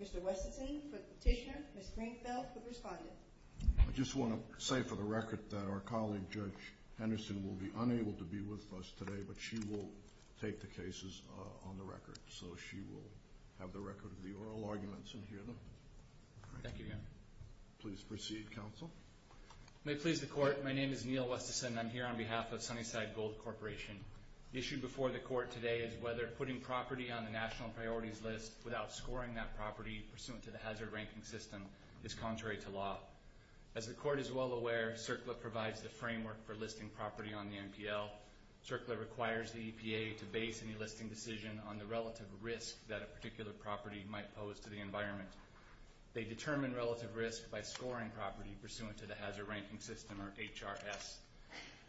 Mr. Westenson, Petitioner, Ms. Greenfeld, the Respondent. I just want to say for the record that our colleague, Judge Henderson, will be unable to be with us today, but she will take the cases on the record, so she will have the record of the oral arguments and hear them. Thank you. Please proceed, Counsel. May it please the Court, my name is Neil Westenson and I'm here on behalf of Sunnyside Gold Corporation. The issue before the Court today is whether putting property on the National Priorities List without scoring that property pursuant to the Hazard Ranking System is contrary to law. As the Court is well aware, CERCLA provides the framework for listing property on the NPL. CERCLA requires the EPA to base any listing decision on the relative risk that a particular property might pose to the environment. They determine relative risk by scoring property pursuant to the Hazard Ranking System, or HRS.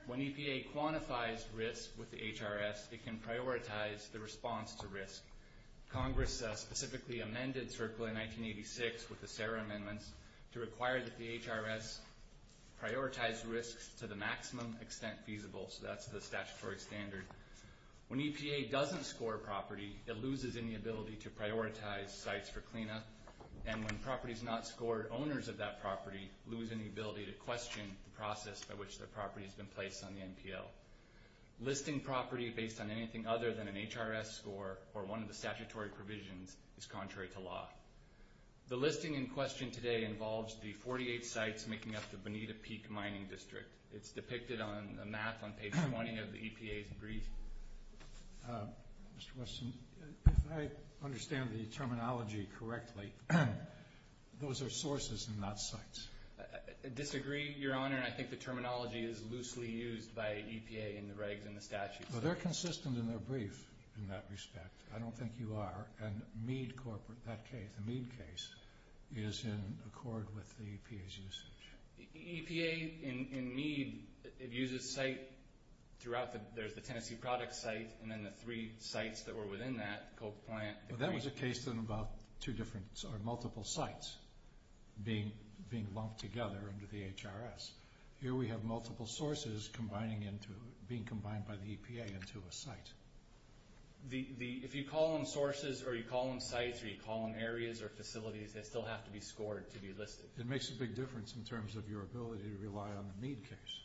When EPA quantifies risk with the HRS, it can prioritize the response to risk. Congress specifically amended CERCLA in 1986 with the SARA amendments to require that the HRS prioritize risks to the maximum extent feasible, so that's the statutory standard. When EPA doesn't score property, it loses any ability to prioritize sites for cleanup, and when properties not scored, owners of that property lose any ability to question the process by which their property has been placed on the NPL. Listing property based on anything other than an HRS score or one of the statutory provisions is contrary to law. The listing in question today involves the 48 sites making up the Bonita Peak Mining District. It's depicted on a map on page 20 of the EPA's brief. Mr. Weston, if I understand the terminology correctly, those are sources and not sites. I disagree, Your Honor, and I think the terminology is loosely used by EPA in the regs and the statutes. Well, they're consistent in their brief in that respect. I don't think you are. And Mead corporate, that case, the Mead case, is in accord with the EPA's usage. EPA in Mead, it uses site throughout, there's the Tennessee product site and then the three sites that were within that, Coke Plant. Well, that was a case in about two different, or multiple sites being lumped together under the HRS. Here we have multiple sources being combined by the EPA into a site. If you call them sources or you call them sites or you call them areas or facilities, they still have to be scored to be listed. It makes a big difference in terms of your ability to rely on the Mead case.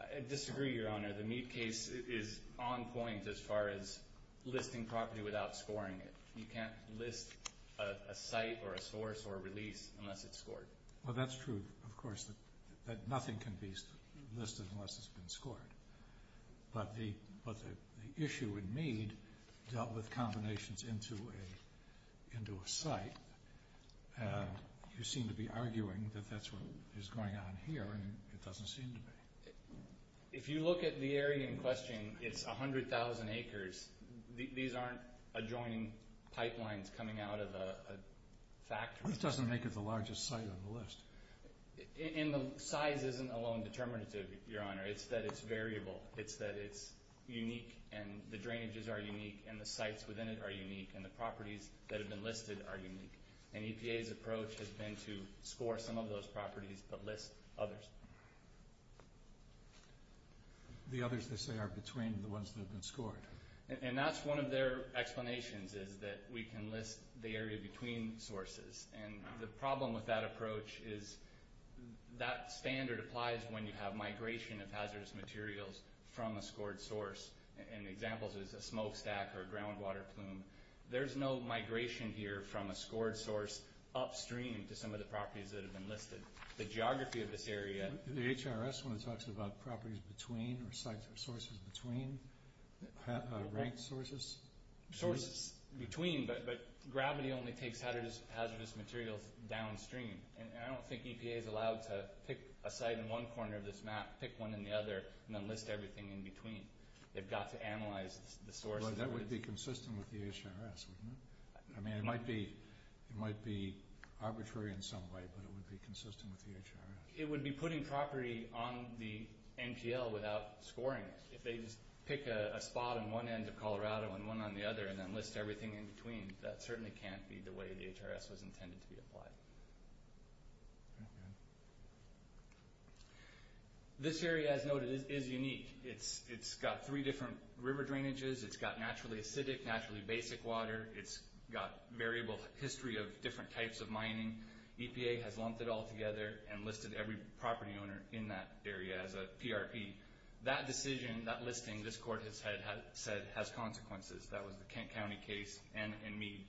I disagree, Your Honor. The Mead case is on point as far as listing property without scoring it. You can't list a site or a source or a release unless it's scored. Well, that's true, of course, that nothing can be listed unless it's been scored. But the issue in Mead dealt with combinations into a site. You seem to be arguing that that's what is going on here and it doesn't seem to be. If you look at the area in question, it's 100,000 acres. These aren't adjoining pipelines coming out of a factory. That doesn't make it the largest site on the list. Size isn't alone determinative, Your Honor. It's that it's variable. It's that it's unique and the drainages are unique and the sites within it are unique and the properties that have been listed are unique. And EPA's approach has been to score some of those properties but list others. The others, they say, are between the ones that have been scored. And that's one of their explanations is that we can list the area between sources. And the problem with that approach is that standard applies when you have migration of hazardous materials from a scored source. An example is a smokestack or a groundwater plume. There's no migration here from a scored source upstream to some of the properties that have been listed. The geography of this area— The HRS one talks about properties between or sites or sources between, ranked sources. Sources between, but gravity only takes hazardous materials downstream. And I don't think EPA is allowed to pick a site in one corner of this map, pick one in the other, and then list everything in between. They've got to analyze the sources. That would be consistent with the HRS, wouldn't it? I mean, it might be arbitrary in some way, but it would be consistent with the HRS. It would be putting property on the NPL without scoring it. If they just pick a spot on one end of Colorado and one on the other and then list everything in between, that certainly can't be the way the HRS was intended to be applied. This area, as noted, is unique. It's got three different river drainages. It's got naturally acidic, naturally basic water. It's got variable history of different types of mining. EPA has lumped it all together and listed every property owner in that area as a PRP. That decision, that listing, this court has said has consequences. That was the Kent County case and Mead.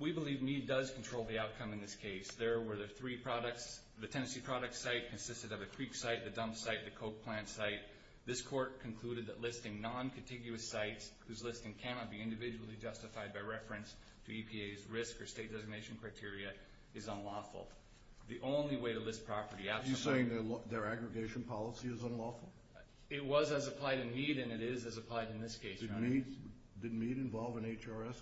We believe Mead does control the outcome in this case. There were the three products. The Tennessee product site consisted of a creek site, the dump site, the coke plant site. This court concluded that listing non-contiguous sites, whose listing cannot be individually justified by reference to EPA's risk or state designation criteria, is unlawful. The only way to list property absolutely— Are you saying their aggregation policy is unlawful? It was as applied in Mead and it is as applied in this case, Your Honor. Did Mead involve an HRS?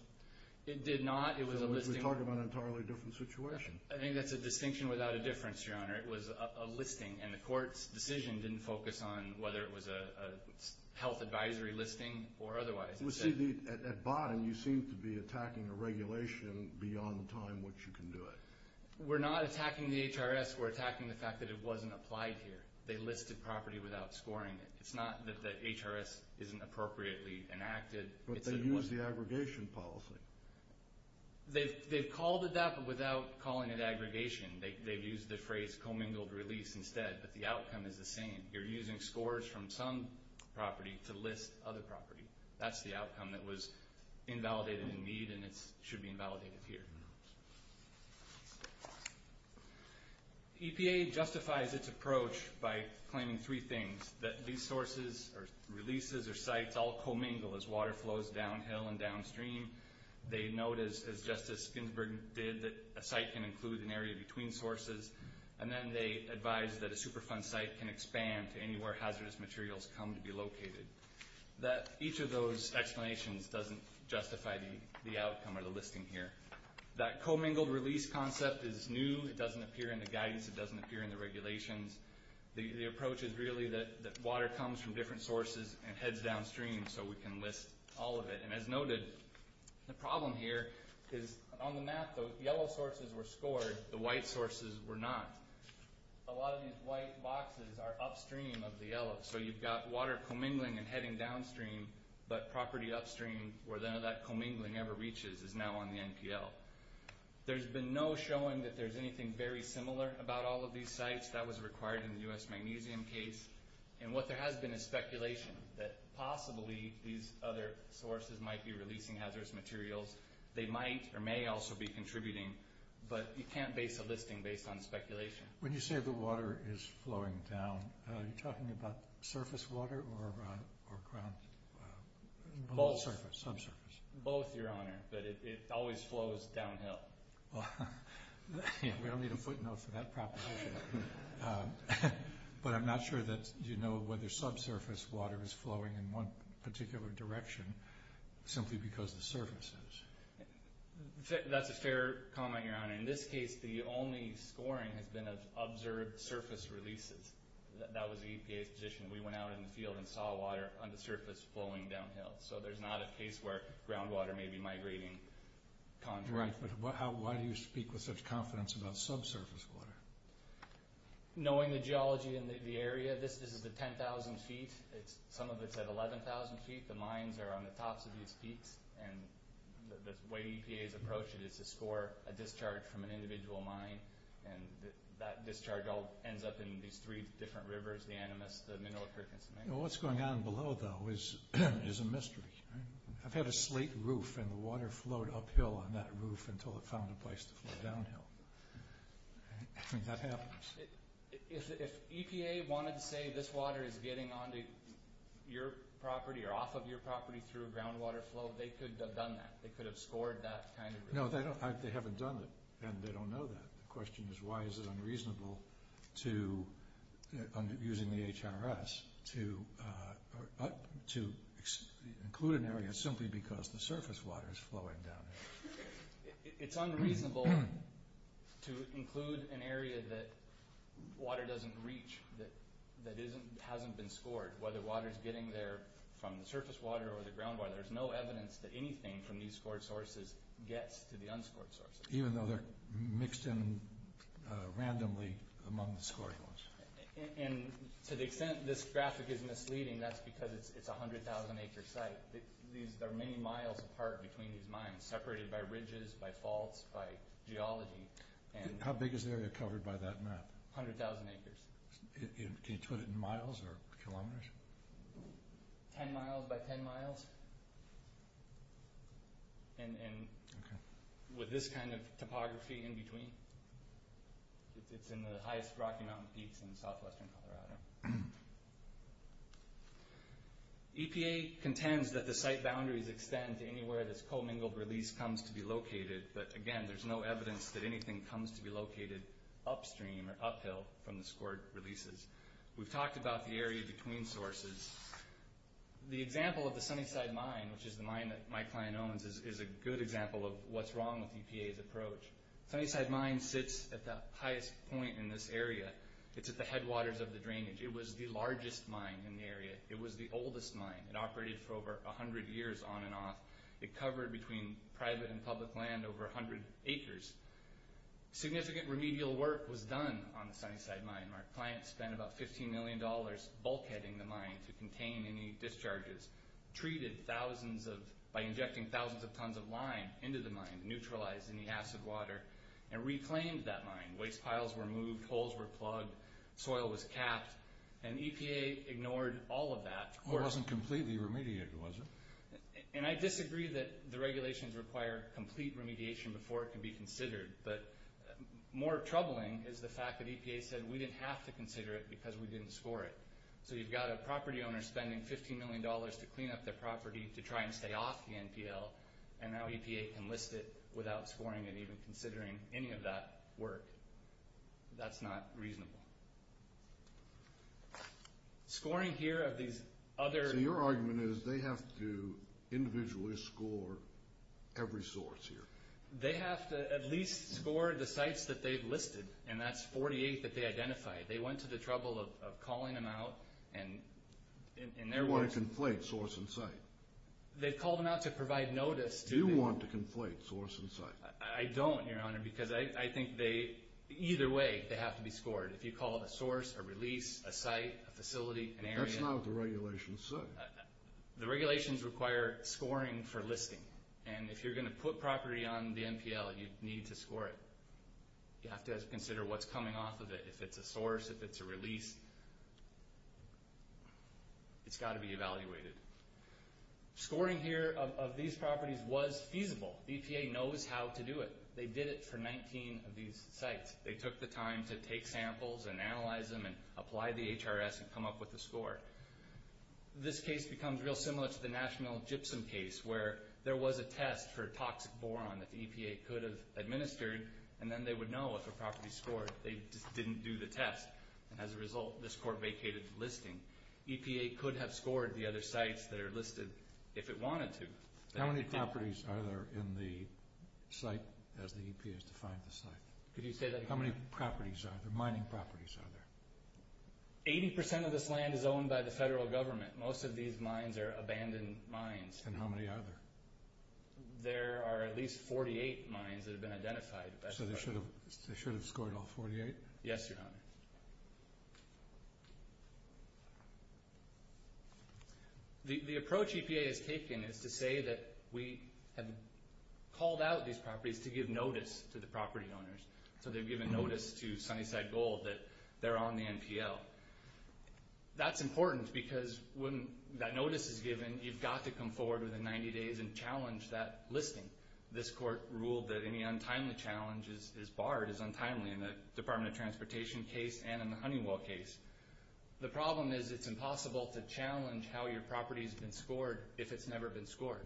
It did not. It was a listing— We're talking about an entirely different situation. I think that's a distinction without a difference, Your Honor. It was a listing, and the court's decision didn't focus on whether it was a health advisory listing or otherwise. At bottom, you seem to be attacking a regulation beyond the time which you can do it. We're not attacking the HRS. We're attacking the fact that it wasn't applied here. They listed property without scoring it. It's not that the HRS isn't appropriately enacted. But they used the aggregation policy. They've called it that but without calling it aggregation. They've used the phrase commingled release instead, but the outcome is the same. You're using scores from some property to list other property. That's the outcome that was invalidated in Mead, and it should be invalidated here. EPA justifies its approach by claiming three things, that these sources or releases or sites all commingle as water flows downhill and downstream. They note, as Justice Ginsburg did, that a site can include an area between sources. And then they advise that a Superfund site can expand to anywhere hazardous materials come to be located. Each of those explanations doesn't justify the outcome or the listing here. That commingled release concept is new. It doesn't appear in the guidance. It doesn't appear in the regulations. The approach is really that water comes from different sources and heads downstream so we can list all of it. As noted, the problem here is on the map, the yellow sources were scored. The white sources were not. A lot of these white boxes are upstream of the yellow. So you've got water commingling and heading downstream, but property upstream where none of that commingling ever reaches is now on the NPL. There's been no showing that there's anything very similar about all of these sites. That was required in the U.S. Magnesium case. And what there has been is speculation that possibly these other sources might be releasing hazardous materials. They might or may also be contributing, but you can't base a listing based on speculation. When you say the water is flowing down, are you talking about surface water or ground? Both, Your Honor, but it always flows downhill. We don't need a footnote for that proposition. But I'm not sure that you know whether subsurface water is flowing in one particular direction simply because the surface is. That's a fair comment, Your Honor. In this case, the only scoring has been of observed surface releases. That was the EPA's position. We went out in the field and saw water on the surface flowing downhill. So there's not a case where groundwater may be migrating. Right, but why do you speak with such confidence about subsurface water? Knowing the geology in the area, this is the 10,000 feet. Some of it's at 11,000 feet. The mines are on the tops of these peaks, and the way EPA has approached it is to score a discharge from an individual mine, and that discharge all ends up in these three different rivers, the Animas, the Mineral Creek, and the Cemetery. What's going on below, though, is a mystery. I've had a slate roof, and the water flowed uphill on that roof until it found a place to flow downhill. That happens. If EPA wanted to say this water is getting onto your property or off of your property through a groundwater flow, they could have done that. They could have scored that kind of river. No, they haven't done it, and they don't know that. The question is why is it unreasonable to, using the HRS, to include an area simply because the surface water is flowing downhill? It's unreasonable to include an area that water doesn't reach, that hasn't been scored. Whether water is getting there from the surface water or the groundwater, there's no evidence that anything from these scored sources gets to the unscored sources. Even though they're mixed in randomly among the scoring ones. To the extent this graphic is misleading, that's because it's a 100,000 acre site. There are many miles apart between these mines, separated by ridges, by faults, by geology. How big is the area covered by that map? 100,000 acres. Can you put it in miles or kilometers? 10 miles by 10 miles. With this kind of topography in between, it's in the highest Rocky Mountain peaks in southwestern Colorado. EPA contends that the site boundaries extend to anywhere this co-mingled release comes to be located, but again, there's no evidence that anything comes to be located upstream or uphill from the scored releases. We've talked about the area between sources. The example of the Sunnyside Mine, which is the mine that my client owns, is a good example of what's wrong with EPA's approach. Sunnyside Mine sits at the highest point in this area. It's at the headwaters of the drainage. It was the largest mine in the area. It was the oldest mine. It operated for over 100 years on and off. It covered between private and public land over 100 acres. Significant remedial work was done on the Sunnyside Mine. My client spent about $15 million bulkheading the mine to contain any discharges, treated by injecting thousands of tons of lime into the mine, neutralized any acid water, and reclaimed that mine. Waste piles were moved. Holes were plugged. Soil was capped. And EPA ignored all of that. It wasn't completely remediated, was it? And I disagree that the regulations require complete remediation before it can be considered, but more troubling is the fact that EPA said, we didn't have to consider it because we didn't score it. So you've got a property owner spending $15 million to clean up their property to try and stay off the NPL, and now EPA can list it without scoring it, even considering any of that work. That's not reasonable. Scoring here of these other... So your argument is they have to individually score every source here. They have to at least score the sites that they've listed, and that's 48 that they identified. They went to the trouble of calling them out, and in their words... You want to conflate source and site. They called them out to provide notice. You want to conflate source and site. I don't, Your Honor, because I think either way they have to be scored. If you call it a source, a release, a site, a facility, an area... That's not what the regulations say. The regulations require scoring for listing, and if you're going to put property on the NPL, you need to score it. You have to consider what's coming off of it. If it's a source, if it's a release, it's got to be evaluated. Scoring here of these properties was feasible. EPA knows how to do it. They did it for 19 of these sites. They took the time to take samples and analyze them and apply the HRS and come up with the score. This case becomes real similar to the National Gypsum case where there was a test for toxic boron that the EPA could have administered, and then they would know if a property scored. They just didn't do the test, and as a result, this court vacated the listing. EPA could have scored the other sites that are listed if it wanted to. How many properties are there in the site as the EPA has defined the site? Could you say that again? How many properties are there, mining properties are there? Eighty percent of this land is owned by the federal government. Most of these mines are abandoned mines. And how many are there? There are at least 48 mines that have been identified. So they should have scored all 48? Yes, Your Honor. The approach EPA has taken is to say that we have called out these properties to give notice to the property owners. So they've given notice to Sunnyside Gold that they're on the NPL. That's important because when that notice is given, you've got to come forward within 90 days and challenge that listing. This court ruled that any untimely challenge is barred as untimely in the Department of Transportation case and in the Honeywell case. The problem is it's impossible to challenge how your property has been scored if it's never been scored.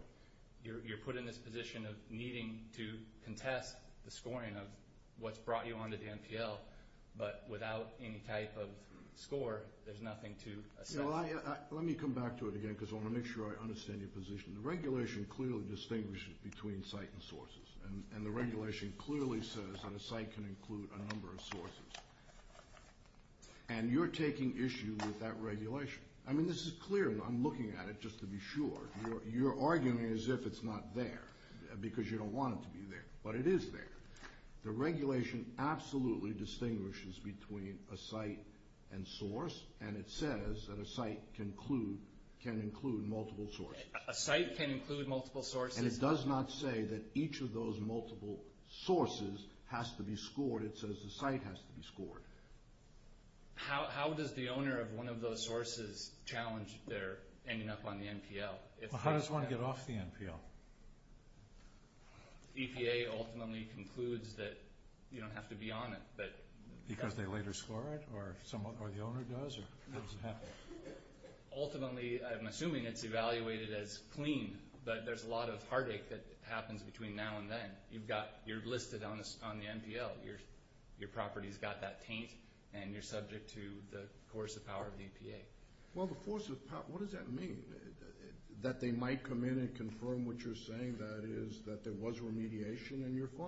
You're put in this position of needing to contest the scoring of what's brought you on to the NPL, but without any type of score, there's nothing to assess. Let me come back to it again because I want to make sure I understand your position. The regulation clearly distinguishes between site and sources, and the regulation clearly says that a site can include a number of sources. And you're taking issue with that regulation. I mean, this is clear. I'm looking at it just to be sure. You're arguing as if it's not there because you don't want it to be there, but it is there. The regulation absolutely distinguishes between a site and source, and it says that a site can include multiple sources. A site can include multiple sources. And it does not say that each of those multiple sources has to be scored. It says the site has to be scored. How does the owner of one of those sources challenge their ending up on the NPL? How does one get off the NPL? EPA ultimately concludes that you don't have to be on it. Because they later score it, or the owner does? How does it happen? Ultimately, I'm assuming it's evaluated as clean, but there's a lot of heartache that happens between now and then. You're listed on the NPL. Your property's got that taint, and you're subject to the coercive power of the EPA. Well, the coercive power, what does that mean? That they might come in and confirm what you're saying, that is, that there was remediation and you're fine?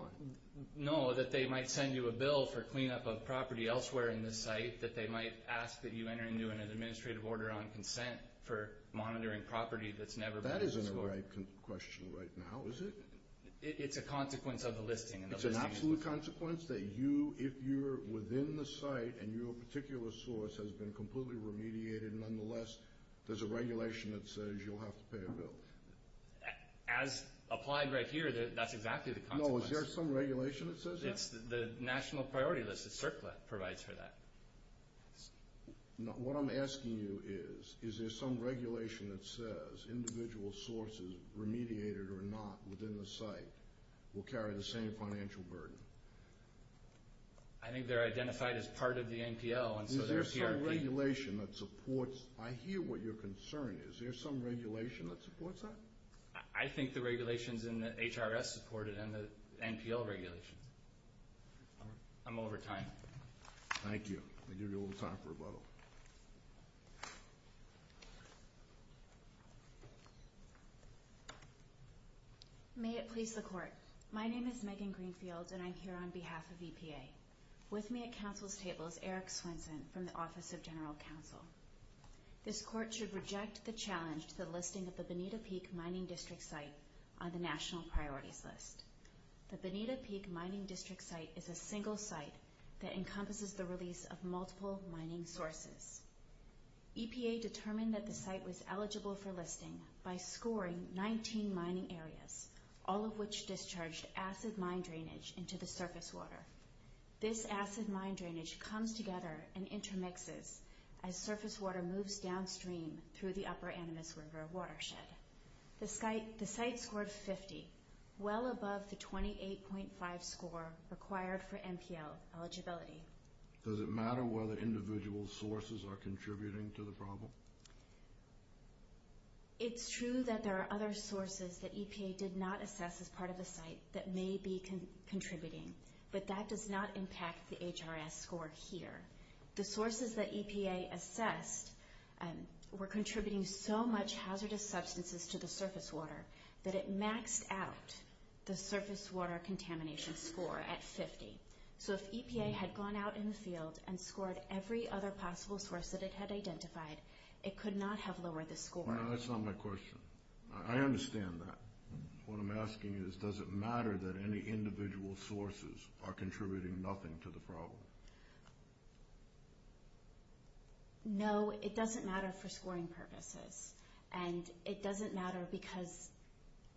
No, that they might send you a bill for cleanup of property elsewhere in the site, that they might ask that you enter into an administrative order on consent for monitoring property that's never been used before. That isn't a right question right now, is it? It's a consequence of the listing. It's an absolute consequence that you, if you're within the site and your particular source has been completely remediated nonetheless, there's a regulation that says you'll have to pay a bill. As applied right here, that's exactly the consequence. No, is there some regulation that says that? It's the national priority list that CERCLA provides for that. What I'm asking you is, is there some regulation that says individual sources, remediated or not, within the site, will carry the same financial burden? I think they're identified as part of the NPL. Is there some regulation that supports? I hear what your concern is. Is there some regulation that supports that? I think the regulations in the HRS support it and the NPL regulation. I'm over time. Thank you. I'll give you a little time for rebuttal. May it please the Court. My name is Megan Greenfield, and I'm here on behalf of EPA. With me at Council's table is Eric Swenson from the Office of General Counsel. This Court should reject the challenge to the listing of the Benita Peak Mining District site on the national priorities list. The Benita Peak Mining District site is a single site that encompasses the release of multiple mining sources. EPA determined that the site was eligible for listing by scoring 19 mining areas, all of which discharged acid mine drainage into the surface water. This acid mine drainage comes together and intermixes as surface water moves downstream through the Upper Animas River watershed. The site scored 50, well above the 28.5 score required for NPL eligibility. Does it matter whether individual sources are contributing to the problem? It's true that there are other sources that EPA did not assess as part of the site that may be contributing, but that does not impact the HRS score here. The sources that EPA assessed were contributing so much hazardous substances to the surface water that it maxed out the surface water contamination score at 50. So if EPA had gone out in the field and scored every other possible source that it had identified, it could not have lowered the score. No, that's not my question. I understand that. What I'm asking is, does it matter that any individual sources are contributing nothing to the problem? No, it doesn't matter for scoring purposes. And it doesn't matter because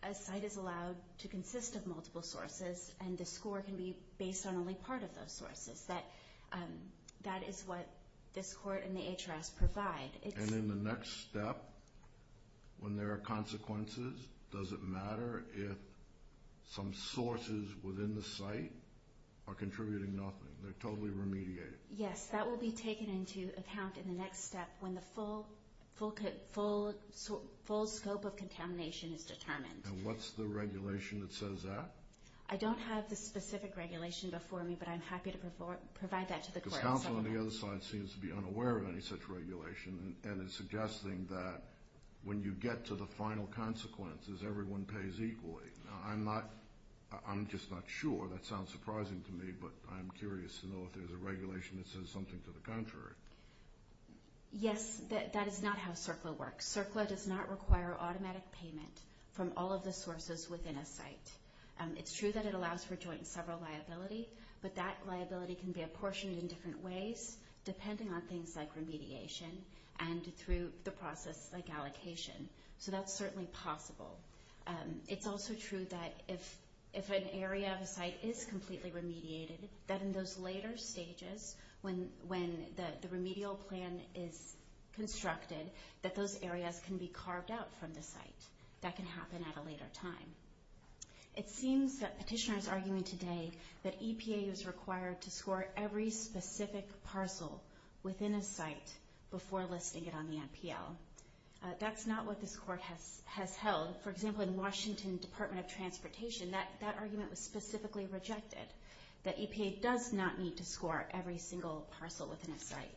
a site is allowed to consist of multiple sources, and the score can be based on only part of those sources. That is what this court and the HRS provide. And in the next step, when there are consequences, does it matter if some sources within the site are contributing nothing? They're totally remediated. Yes, that will be taken into account in the next step when the full scope of contamination is determined. And what's the regulation that says that? I don't have the specific regulation before me, but I'm happy to provide that to the court. Because counsel on the other side seems to be unaware of any such regulation and is suggesting that when you get to the final consequences, everyone pays equally. Now, I'm just not sure. That sounds surprising to me, but I'm curious to know if there's a regulation that says something to the contrary. Yes, that is not how CERCLA works. CERCLA does not require automatic payment from all of the sources within a site. It's true that it allows for joint and several liability, but that liability can be apportioned in different ways, depending on things like remediation and through the process like allocation. So that's certainly possible. It's also true that if an area of a site is completely remediated, that in those later stages, when the remedial plan is constructed, that those areas can be carved out from the site. That can happen at a later time. It seems that Petitioner is arguing today that EPA is required to score every specific parcel within a site before listing it on the NPL. That's not what this Court has held. For example, in Washington Department of Transportation, that argument was specifically rejected, that EPA does not need to score every single parcel within a site.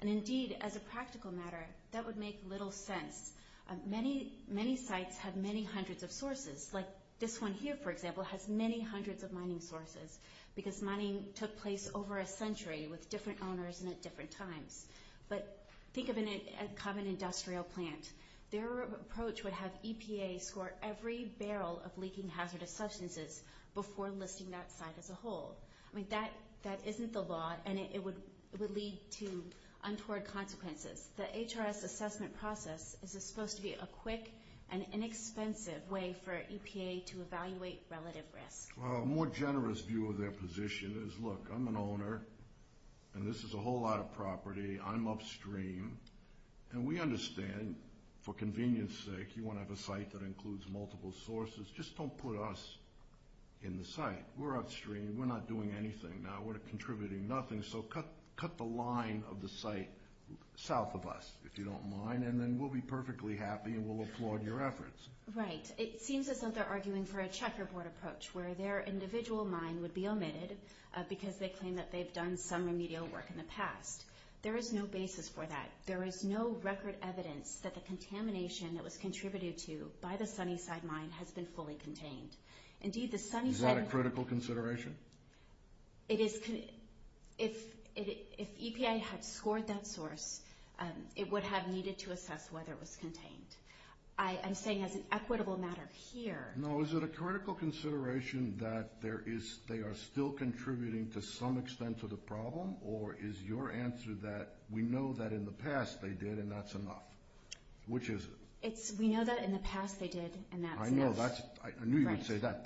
And indeed, as a practical matter, that would make little sense. Many sites have many hundreds of sources, like this one here, for example, has many hundreds of mining sources because mining took place over a century with different owners and at different times. But think of a common industrial plant. Their approach would have EPA score every barrel of leaking hazardous substances before listing that site as a whole. I mean, that isn't the law, and it would lead to untoward consequences. The HRS assessment process is supposed to be a quick and inexpensive way for EPA to evaluate relative risk. Well, a more generous view of their position is, look, I'm an owner, and this is a whole lot of property. I'm upstream, and we understand, for convenience's sake, you want to have a site that includes multiple sources. Just don't put us in the site. We're upstream. We're not doing anything now. We're contributing nothing, so cut the line of the site south of us, if you don't mind, and then we'll be perfectly happy, and we'll applaud your efforts. Right. It seems as though they're arguing for a checkerboard approach where their individual mine would be omitted because they claim that they've done some remedial work in the past. There is no basis for that. There is no record evidence that the contamination that was contributed to by the Sunnyside mine has been fully contained. Is that a critical consideration? If EPA had scored that source, it would have needed to assess whether it was contained. I'm saying as an equitable matter here. No, is it a critical consideration that they are still contributing to some extent to the problem, or is your answer that we know that in the past they did, and that's enough? Which is it? We know that in the past they did, and that's enough. I knew you would say that.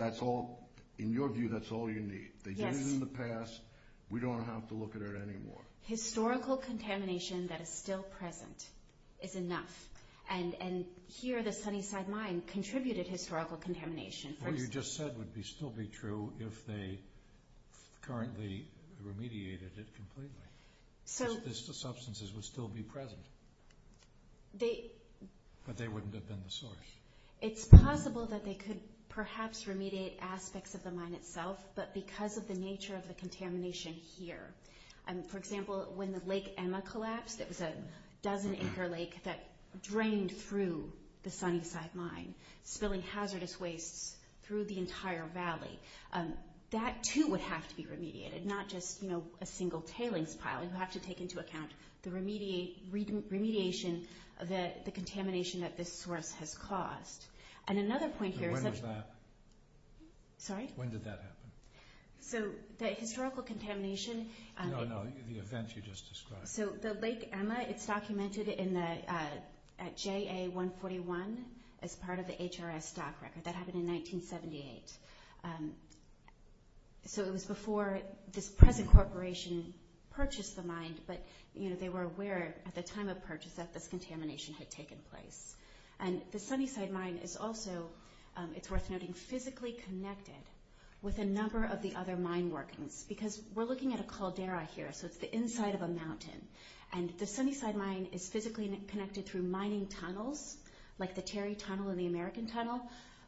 In your view, that's all you need. They did it in the past. We don't have to look at it anymore. Historical contamination that is still present is enough, and here the Sunnyside mine contributed historical contamination. What you just said would still be true if they currently remediated it completely. The substances would still be present, but they wouldn't have been the source. It's possible that they could perhaps remediate aspects of the mine itself, but because of the nature of the contamination here. For example, when the Lake Emma collapsed, it was a dozen-acre lake that drained through the Sunnyside mine, spilling hazardous wastes through the entire valley. That, too, would have to be remediated, not just a single tailings pile. You have to take into account the remediation of the contamination that this source has caused. And another point here is that— When was that? Sorry? When did that happen? The historical contamination— No, no, the event you just described. So the Lake Emma, it's documented at JA-141 as part of the HRS stock record. That happened in 1978. So it was before this present corporation purchased the mine, but they were aware at the time of purchase that this contamination had taken place. And the Sunnyside mine is also, it's worth noting, physically connected with a number of the other mine workings because we're looking at a caldera here, so it's the inside of a mountain. And the Sunnyside mine is physically connected through mining tunnels, like the Terry Tunnel and the American Tunnel,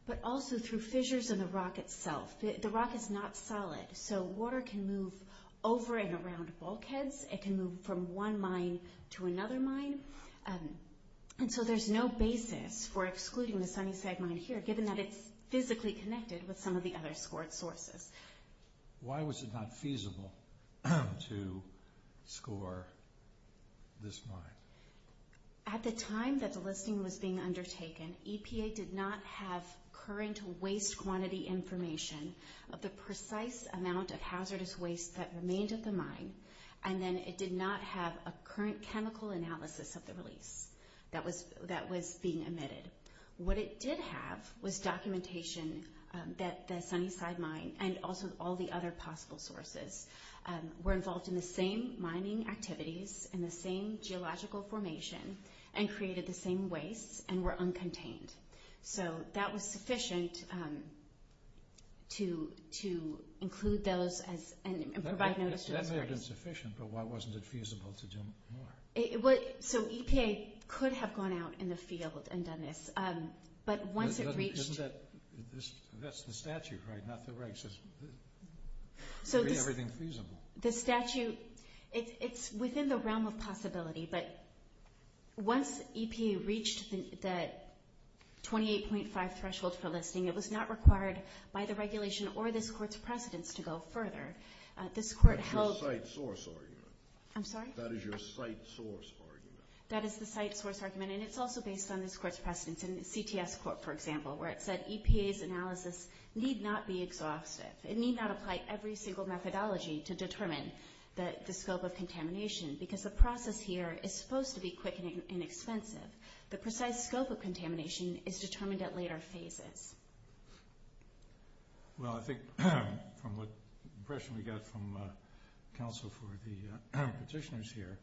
but also through fissures in the rock itself. The rock is not solid, so water can move over and around bulkheads. It can move from one mine to another mine. And so there's no basis for excluding the Sunnyside mine here, given that it's physically connected with some of the other squirt sources. Why was it not feasible to score this mine? At the time that the listing was being undertaken, EPA did not have current waste quantity information of the precise amount of hazardous waste that remained at the mine, and then it did not have a current chemical analysis of the release that was being emitted. What it did have was documentation that the Sunnyside mine and also all the other possible sources were involved in the same mining activities and the same geological formation and created the same wastes and were uncontained. So that was sufficient to include those and provide notice to the parties. That may have been sufficient, but why wasn't it feasible to do more? So EPA could have gone out in the field and done this, but once it reached— Isn't that the statute, right, not the regulations? To make everything feasible. The statute, it's within the realm of possibility, but once EPA reached the 28.5 threshold for listing, it was not required by the regulation or this court's precedence to go further. This court held— That's your site source, are you? I'm sorry? That is your site source, are you? That is the site source argument, and it's also based on this court's precedence. In the CTS court, for example, where it said EPA's analysis need not be exhaustive. It need not apply every single methodology to determine the scope of contamination because the process here is supposed to be quick and inexpensive. The precise scope of contamination is determined at later phases. Well, I think from what impression we got from counsel for the petitioners here,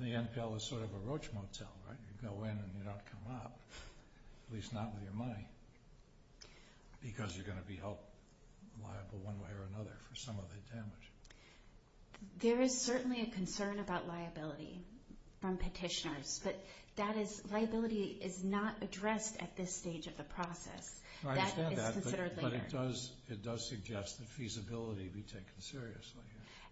the NPL is sort of a roach motel, right? You go in and you don't come out, at least not with your money, because you're going to be held liable one way or another for some of the damage. There is certainly a concern about liability from petitioners, but that is—liability is not addressed at this stage of the process. That is considered later. I understand that, but it does suggest that feasibility be taken seriously.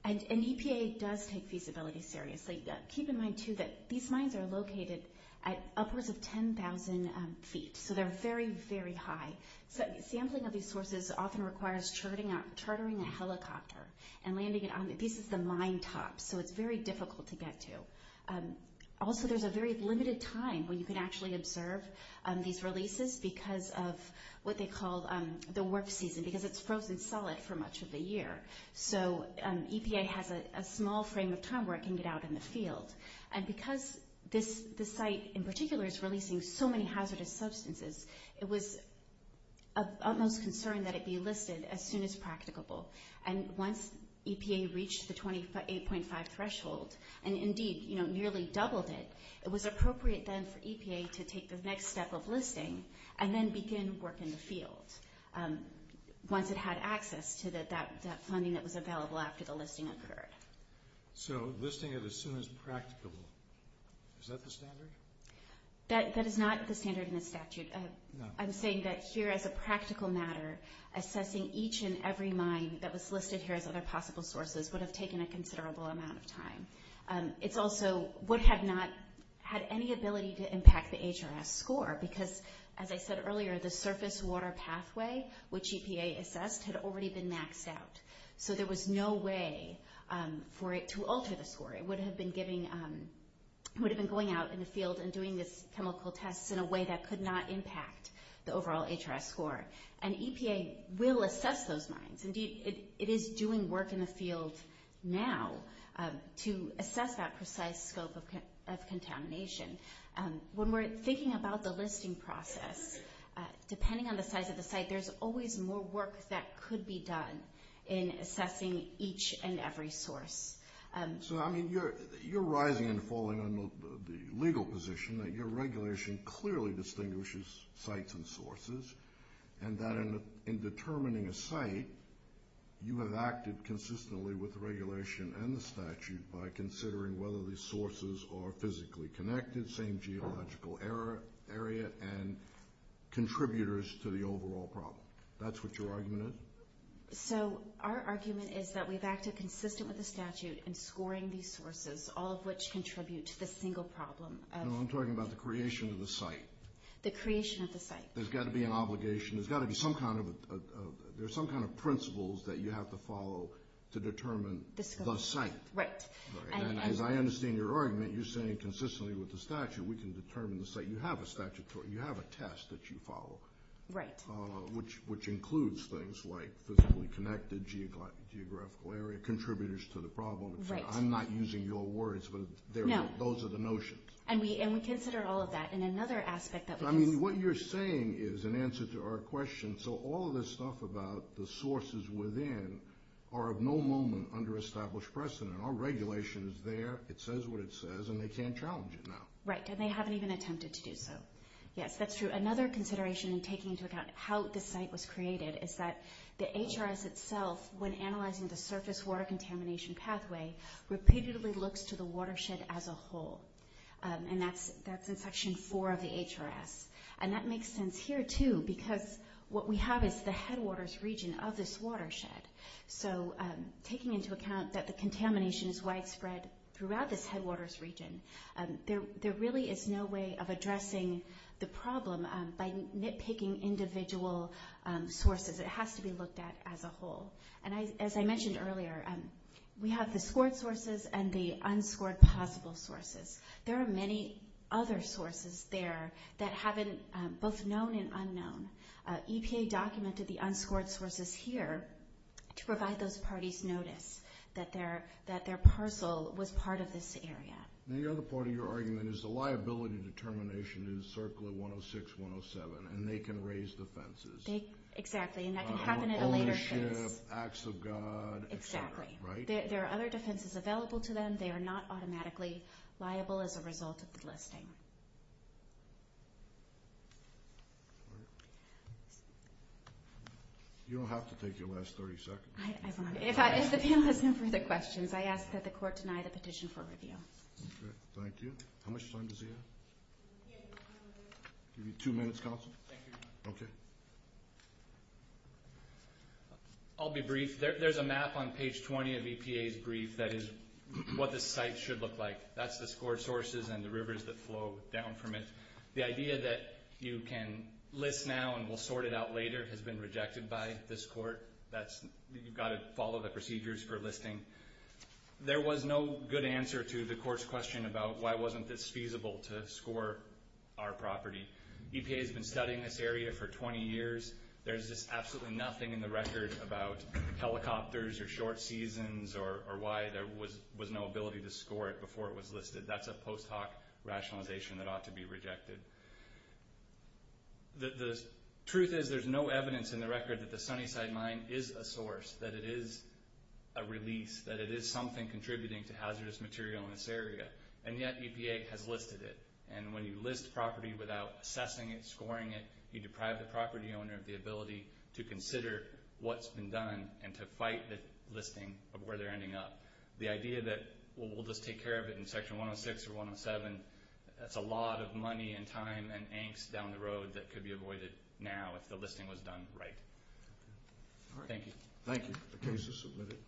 And EPA does take feasibility seriously. Keep in mind, too, that these mines are located at upwards of 10,000 feet, so they're very, very high. Sampling of these sources often requires chartering a helicopter and landing it on— this is the mine top, so it's very difficult to get to. Also, there's a very limited time when you can actually observe these releases because of what they call the warp season, because it's frozen solid for much of the year. So EPA has a small frame of time where it can get out in the field. And because this site in particular is releasing so many hazardous substances, it was of utmost concern that it be listed as soon as practicable. And once EPA reached the 8.5 threshold, and indeed nearly doubled it, it was appropriate then for EPA to take the next step of listing and then begin work in the field once it had access to that funding that was available after the listing occurred. So listing it as soon as practicable, is that the standard? That is not the standard in the statute. I'm saying that here, as a practical matter, assessing each and every mine that was listed here as other possible sources would have taken a considerable amount of time. It also would have not had any ability to impact the HRS score because, as I said earlier, the surface water pathway, which EPA assessed, had already been maxed out. So there was no way for it to alter the score. It would have been going out in the field and doing these chemical tests in a way that could not impact the overall HRS score. And EPA will assess those mines. Indeed, it is doing work in the field now to assess that precise scope of contamination. When we're thinking about the listing process, depending on the size of the site, there's always more work that could be done in assessing each and every source. So, I mean, you're rising and falling on the legal position that your regulation clearly distinguishes sites and sources, and that in determining a site, you have acted consistently with the regulation and the statute by considering whether these sources are physically connected, same geological area, and contributors to the overall problem. That's what your argument is? So our argument is that we've acted consistent with the statute in scoring these sources, all of which contribute to the single problem. No, I'm talking about the creation of the site. The creation of the site. There's got to be an obligation. There's got to be some kind of principles that you have to follow to determine the site. Right. And as I understand your argument, you're saying consistently with the statute, we can determine the site. You have a test that you follow. Right. Which includes things like physically connected, geographical area, contributors to the problem. Right. I'm not using your words, but those are the notions. And we consider all of that. And another aspect that we consider. I mean, what you're saying is in answer to our question, so all of this stuff about the sources within are of no moment under established precedent. Our regulation is there. It says what it says, and they can't challenge it now. Right, and they haven't even attempted to do so. Yes, that's true. Another consideration in taking into account how the site was created is that the HRS itself, when analyzing the surface water contamination pathway, repeatedly looks to the watershed as a whole. And that's in Section 4 of the HRS. And that makes sense here, too, because what we have is the headwaters region of this watershed. So taking into account that the contamination is widespread throughout this headwaters region, there really is no way of addressing the problem by nitpicking individual sources. It has to be looked at as a whole. And as I mentioned earlier, we have the scored sources and the unscored possible sources. There are many other sources there that haven't both known and unknown. EPA documented the unscored sources here to provide those parties notice that their parcel was part of this area. And the other part of your argument is the liability determination is circling 106, 107, and they can raise defenses. Exactly, and that can happen at a later phase. Ownership, acts of God, et cetera. Exactly. There are other defenses available to them. They are not automatically liable as a result of the listing. You don't have to take your last 30 seconds. If the panel has no further questions, I ask that the Court deny the petition for review. Okay, thank you. How much time does he have? Give you two minutes, Counsel. Thank you, Your Honor. Okay. I'll be brief. There's a map on page 20 of EPA's brief that is what the site should look like. That's the scored sources and the rivers that flow down from it. The idea that you can list now and we'll sort it out later has been rejected by this Court. You've got to follow the procedures for listing. There was no good answer to the Court's question about why wasn't this feasible to score our property. EPA has been studying this area for 20 years. There's just absolutely nothing in the record about helicopters or short seasons or why there was no ability to score it before it was listed. That's a post hoc rationalization that ought to be rejected. The truth is there's no evidence in the record that the Sunnyside Mine is a source, that it is a release, that it is something contributing to hazardous material in this area, and yet EPA has listed it. And when you list property without assessing it, scoring it, you deprive the property owner of the ability to consider what's been done and to fight the listing of where they're ending up. The idea that we'll just take care of it in Section 106 or 107, that's a lot of money and time and angst down the road that could be avoided now if the listing was done right. Thank you. Thank you. The case is submitted.